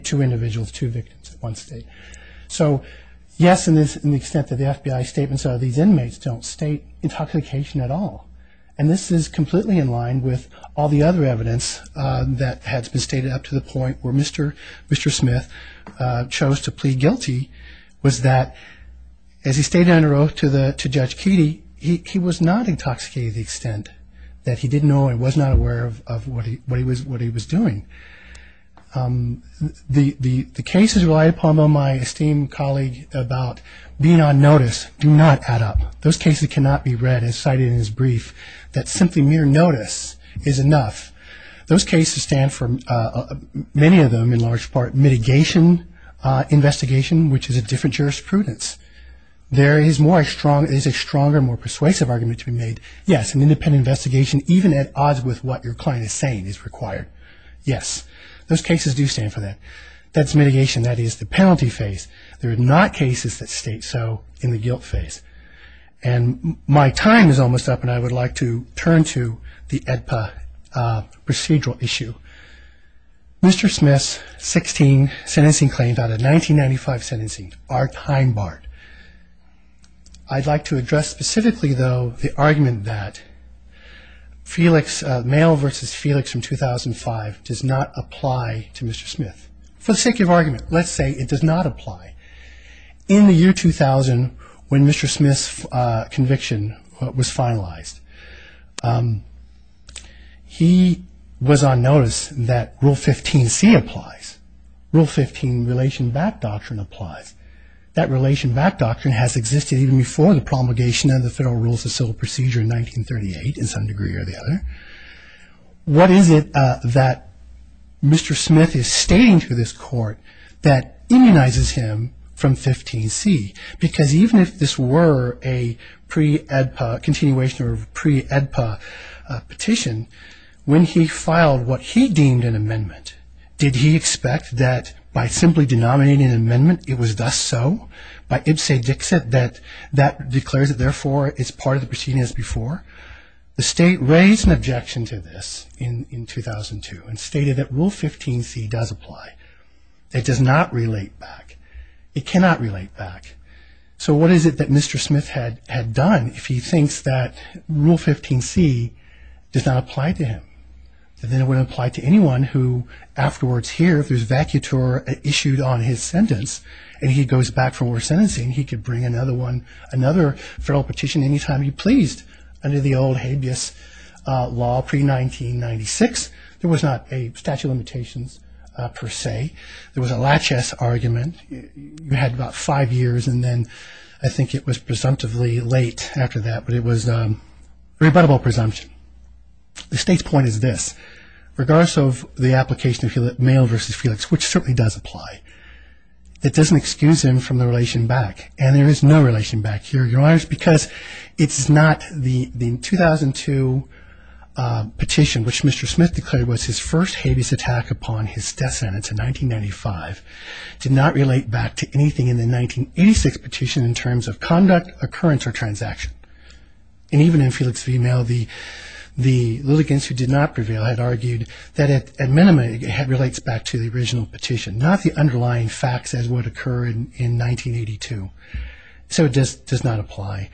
two individuals, two victims at one state. So yes, in the extent that the FBI statements of these inmates don't state intoxication at all and this is completely in line with all the other evidence that has been stated up to the point where Mr. Smith chose to plead guilty was that as he stayed under oath to Judge Keedy, he was not intoxicated to the extent that he didn't know and was not aware of what he was doing. The cases relied upon by my esteemed colleague about being on notice do not add up. Those cases cannot be read and cited in his brief that simply mere notice is enough. Those cases stand for many of them in large part mitigation investigation, which is a different jurisprudence. There is a stronger, more persuasive argument to be made. Yes, an independent investigation even at odds with what your client is saying is required. Yes, those cases do stand for that. That's mitigation. That is the penalty phase. There are not cases that state so in the guilt phase. My time is almost up and I would like to turn to the AEDPA procedural issue. Mr. Smith's 16 sentencing claims out of 1995 sentencing are time-barred. I'd like to address specifically, though, the argument that Male v. Felix from 2005 does not apply to Mr. Smith. For the sake of argument, let's say it does not apply. In the year 2000, when Mr. Smith's conviction was finalized, he was on notice that Rule 15C applies. Rule 15 relation back doctrine applies. That relation back doctrine has existed even before the promulgation of the Federal Rules of Civil Procedure in 1938 in some degree or the other. What is it that Mr. Smith is stating to this court that immunizes him from 15C? Because even if this were a pre-AEDPA continuation or pre-AEDPA petition, when he filed what he deemed an amendment, did he expect that by simply denominating an amendment it was thus so? By ibse dixit that that declares it therefore is part of the proceeding as before? The state raised an objection to this in 2002 and stated that Rule 15C does apply. It does not relate back. It cannot relate back. So what is it that Mr. Smith had done if he thinks that Rule 15C does not apply to him? Then it wouldn't apply to anyone who afterwards here, if there's vacutor issued on his sentence, and he goes back from worse sentencing, he could bring another federal petition any time he pleased under the old habeas law pre-1996. There was not a statute of limitations per se. There was a laches argument. You had about five years, and then I think it was presumptively late after that, but it was a rebuttable presumption. The state's point is this. Regardless of the application of Mayo v. Felix, which certainly does apply, it doesn't excuse him from the relation back, and there is no relation back here, Your Honors, because it's not the 2002 petition, which Mr. Smith declared was his first habeas attack upon his death sentence in 1995, did not relate back to anything in the 1986 petition in terms of conduct, occurrence, or transaction. And even in Felix v. Mayo, the litigants who did not prevail had argued that at minimum it relates back to the original petition, not the underlying facts as would occur in 1982. So it does not apply.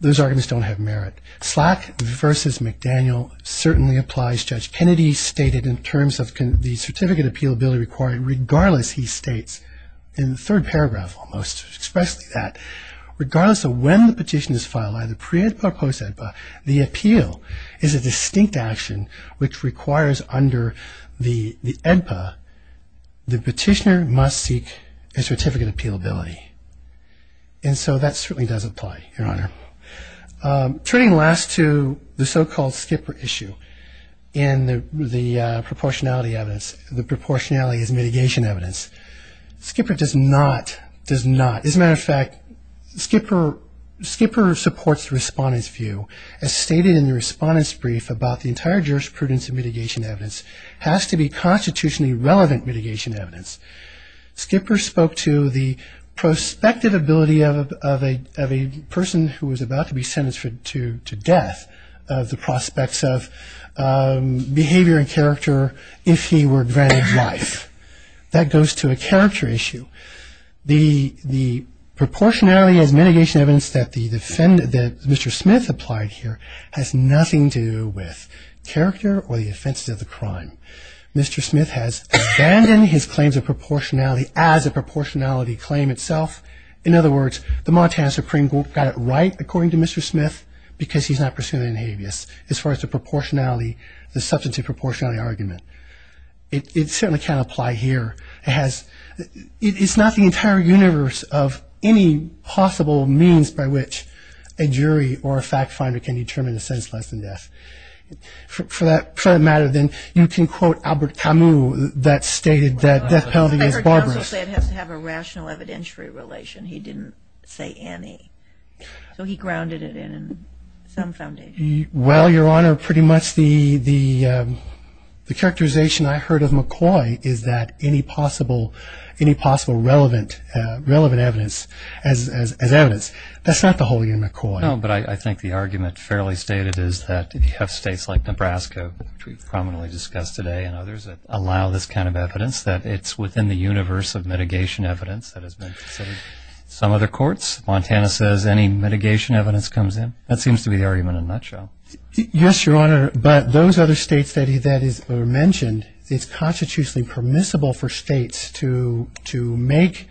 Those arguments don't have merit. Slack v. McDaniel certainly applies. Judge Kennedy stated in terms of the certificate appealability requirement, regardless, he states in the third paragraph almost, expressly that, regardless of when the petition is filed, either pre-EDPA or post-EDPA, the appeal is a distinct action which requires under the EDPA the petitioner must seek a certificate appealability. And so that certainly does apply, Your Honor. Turning last to the so-called Skipper issue and the proportionality evidence, the proportionality is mitigation evidence. Skipper does not, does not. As a matter of fact, Skipper supports the respondent's view as stated in the respondent's brief about the entire jurisprudence of mitigation evidence has to be constitutionally relevant mitigation evidence. Skipper spoke to the prospective ability of a person who was about to be sentenced to death of the prospects of behavior and character if he were granted life. That goes to a character issue. The proportionality as mitigation evidence that Mr. Smith applied here has nothing to do with character or the offenses of the crime. Mr. Smith has abandoned his claims of proportionality as a proportionality claim itself. In other words, the Montana Supreme Court got it right, according to Mr. Smith, because he's not pursuing an habeas as far as the proportionality, the substantive proportionality argument. It certainly can't apply here. It has, it's not the entire universe of any possible means by which a jury or a fact finder can determine a sentence less than death. For that matter, then, you can quote Albert Camus that stated that death penalty is barbarous. I heard counsel say it has to have a rational evidentiary relation. He didn't say any. So he grounded it in some foundation. Well, Your Honor, pretty much the characterization I heard of McCoy is that any possible relevant evidence as evidence. That's not the whole year, McCoy. No, but I think the argument fairly stated is that if you have states like Nebraska, which we prominently discussed today, and others that allow this kind of evidence, that it's within the universe of mitigation evidence that has been considered. Some other courts, Montana says any mitigation evidence comes in. That seems to be the argument in a nutshell. Yes, Your Honor, but those other states that were mentioned, it's constitutionally permissible for states to make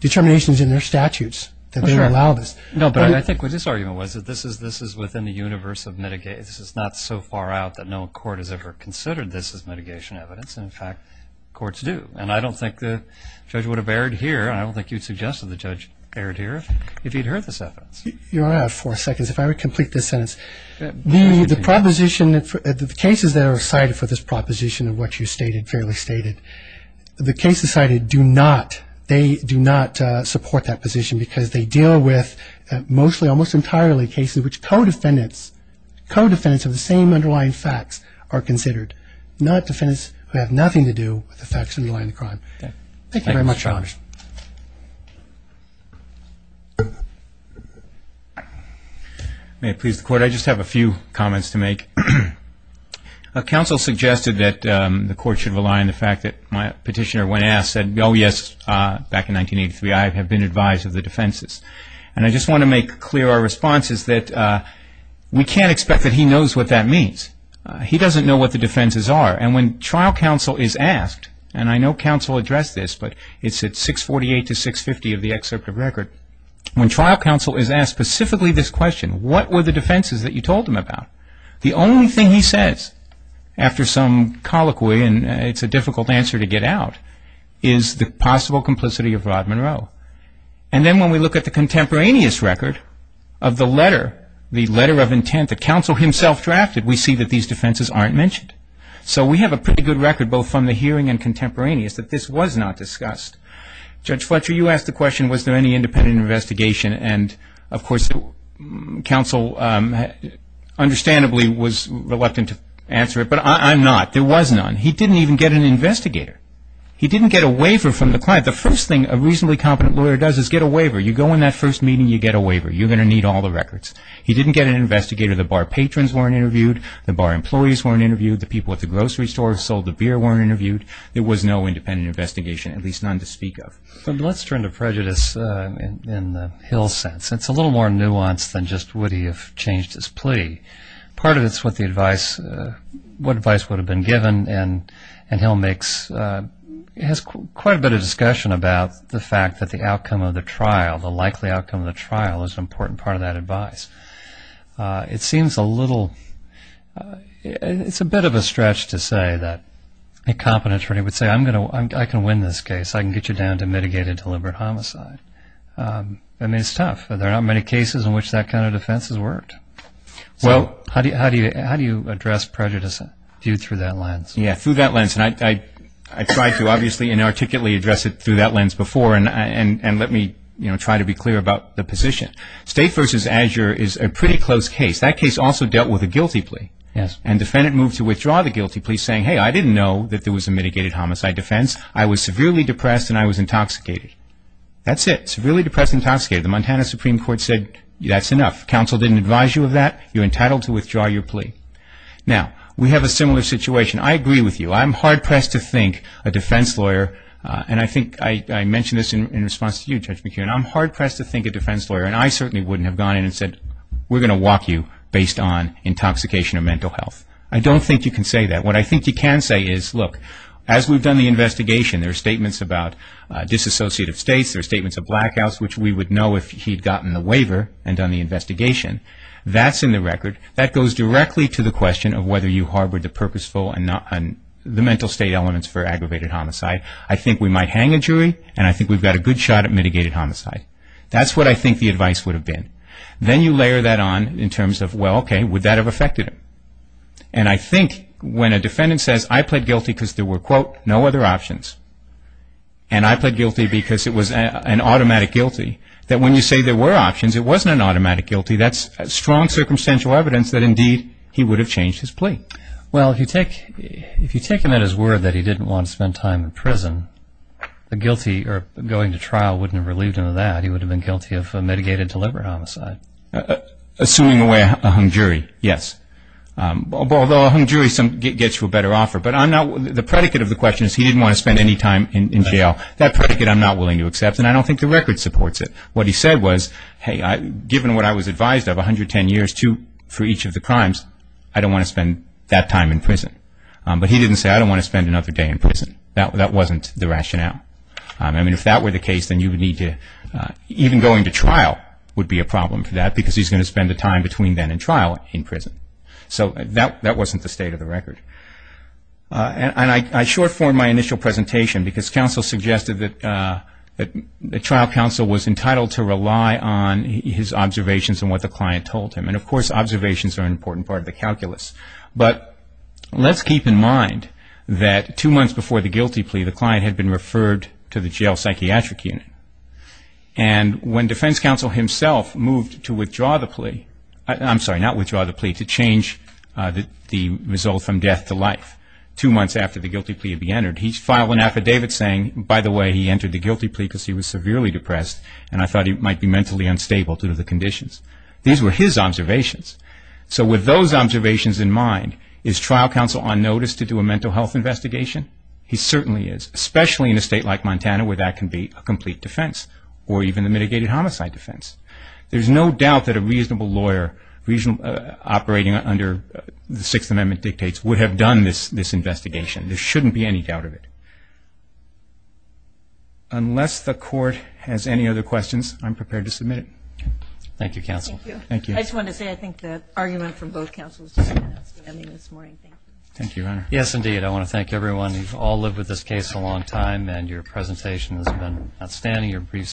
determinations in their statutes that they would allow this. No, but I think what this argument was that this is within the universe of mitigation. This is not so far out that no court has ever considered this as mitigation evidence. In fact, courts do. And I don't think the judge would have erred here, and I don't think you'd suggest that the judge erred here, if he'd heard this evidence. Your Honor, I have four seconds. If I would complete this sentence. The proposition that the cases that are cited for this proposition of what you stated, fairly stated, the cases cited do not, they do not support that position because they deal with mostly almost entirely cases which co-defendants, co-defendants of the same underlying facts are considered, not defendants who have nothing to do with the facts underlying the crime. Thank you very much, Your Honor. May it please the Court. I just have a few comments to make. Counsel suggested that the Court should rely on the fact that my petitioner, when asked, said, oh, yes, back in 1983, I have been advised of the defenses. And I just want to make clear our response is that we can't expect that he knows what that means. He doesn't know what the defenses are. And when trial counsel is asked, and I know counsel addressed this, but it's at 648 to 650 of the excerpt of record. When trial counsel is asked specifically this question, what were the defenses that you told him about? The only thing he says, after some colloquy, and it's a difficult answer to get out, is the possible complicity of Rod Monroe. And then when we look at the contemporaneous record of the letter, the letter of intent, the counsel himself drafted, we see that these defenses aren't mentioned. So we have a pretty good record, both from the hearing and contemporaneous, that this was not discussed. Judge Fletcher, you asked the question, was there any independent investigation? And, of course, counsel understandably was reluctant to answer it, but I'm not. There was none. He didn't even get an investigator. He didn't get a waiver from the client. The first thing a reasonably competent lawyer does is get a waiver. You go in that first meeting, you get a waiver. You're going to need all the records. He didn't get an investigator. The bar patrons weren't interviewed. The bar employees weren't interviewed. The people at the grocery store sold the beer weren't interviewed. There was no independent investigation, at least none to speak of. Let's turn to prejudice in Hill's sense. It's a little more nuanced than just would he have changed his plea. Part of it is what advice would have been given, and Hill has quite a bit of discussion about the fact that the outcome of the trial, the likely outcome of the trial, is an important part of that advice. It seems a little – it's a bit of a stretch to say that a competent attorney would say, I can win this case. I can get you down to mitigated deliberate homicide. I mean, it's tough. There are not many cases in which that kind of defense has worked. So how do you address prejudice through that lens? Yeah, through that lens, and I tried to obviously and articulately address it through that lens before, and let me try to be clear about the position. State v. Azure is a pretty close case. That case also dealt with a guilty plea, and defendant moved to withdraw the guilty plea saying, hey, I didn't know that there was a mitigated homicide defense. I was severely depressed and I was intoxicated. That's it, severely depressed and intoxicated. The Montana Supreme Court said that's enough. Counsel didn't advise you of that. You're entitled to withdraw your plea. Now, we have a similar situation. I agree with you. I'm hard-pressed to think a defense lawyer, and I think I mentioned this in response to you, Judge McKeon. I'm hard-pressed to think a defense lawyer, and I certainly wouldn't have gone in and said, we're going to walk you based on intoxication or mental health. I don't think you can say that. What I think you can say is, look, as we've done the investigation, there are statements about disassociative states. There are statements of blackouts, which we would know if he'd gotten the waiver and done the investigation. That's in the record. That goes directly to the question of whether you harbor the purposeful and the mental state elements for aggravated homicide. I think we might hang a jury, and I think we've got a good shot at mitigated homicide. That's what I think the advice would have been. Then you layer that on in terms of, well, okay, would that have affected him? And I think when a defendant says, I pled guilty because there were, quote, no other options, and I pled guilty because it was an automatic guilty, that when you say there were options, it wasn't an automatic guilty. That's strong circumstantial evidence that, indeed, he would have changed his plea. Well, if you take him at his word that he didn't want to spend time in prison, the guilty or going to trial wouldn't have relieved him of that. He would have been guilty of mitigated deliberate homicide. Suing away a hung jury, yes. Although a hung jury gets you a better offer. The predicate of the question is he didn't want to spend any time in jail. That predicate I'm not willing to accept, and I don't think the record supports it. What he said was, hey, given what I was advised of, 110 years for each of the crimes, I don't want to spend that time in prison. But he didn't say, I don't want to spend another day in prison. That wasn't the rationale. I mean, if that were the case, then you would need to, even going to trial would be a problem for that because he's going to spend the time between then and trial in prison. So that wasn't the state of the record. And I short form my initial presentation because counsel suggested that trial counsel was entitled to rely on his observations and what the client told him. And, of course, observations are an important part of the calculus. But let's keep in mind that two months before the guilty plea, the client had been referred to the jail psychiatric unit. And when defense counsel himself moved to withdraw the plea, I'm sorry, not withdraw the plea, to change the result from death to life, two months after the guilty plea had been entered, he filed an affidavit saying, by the way, he entered the guilty plea because he was severely depressed and I thought he might be mentally unstable due to the conditions. These were his observations. So with those observations in mind, is trial counsel on notice to do a mental health investigation? He certainly is, especially in a state like Montana where that can be a complete defense or even a mitigated homicide defense. There's no doubt that a reasonable lawyer operating under the Sixth Amendment dictates would have done this investigation. There shouldn't be any doubt of it. Unless the court has any other questions, I'm prepared to submit it. Thank you, counsel. Thank you. I just wanted to say I think the argument from both counsels is unanimous. Thank you. Thank you, Your Honor. Yes, indeed. I want to thank everyone. You've all lived with this case a long time and your presentation has been outstanding.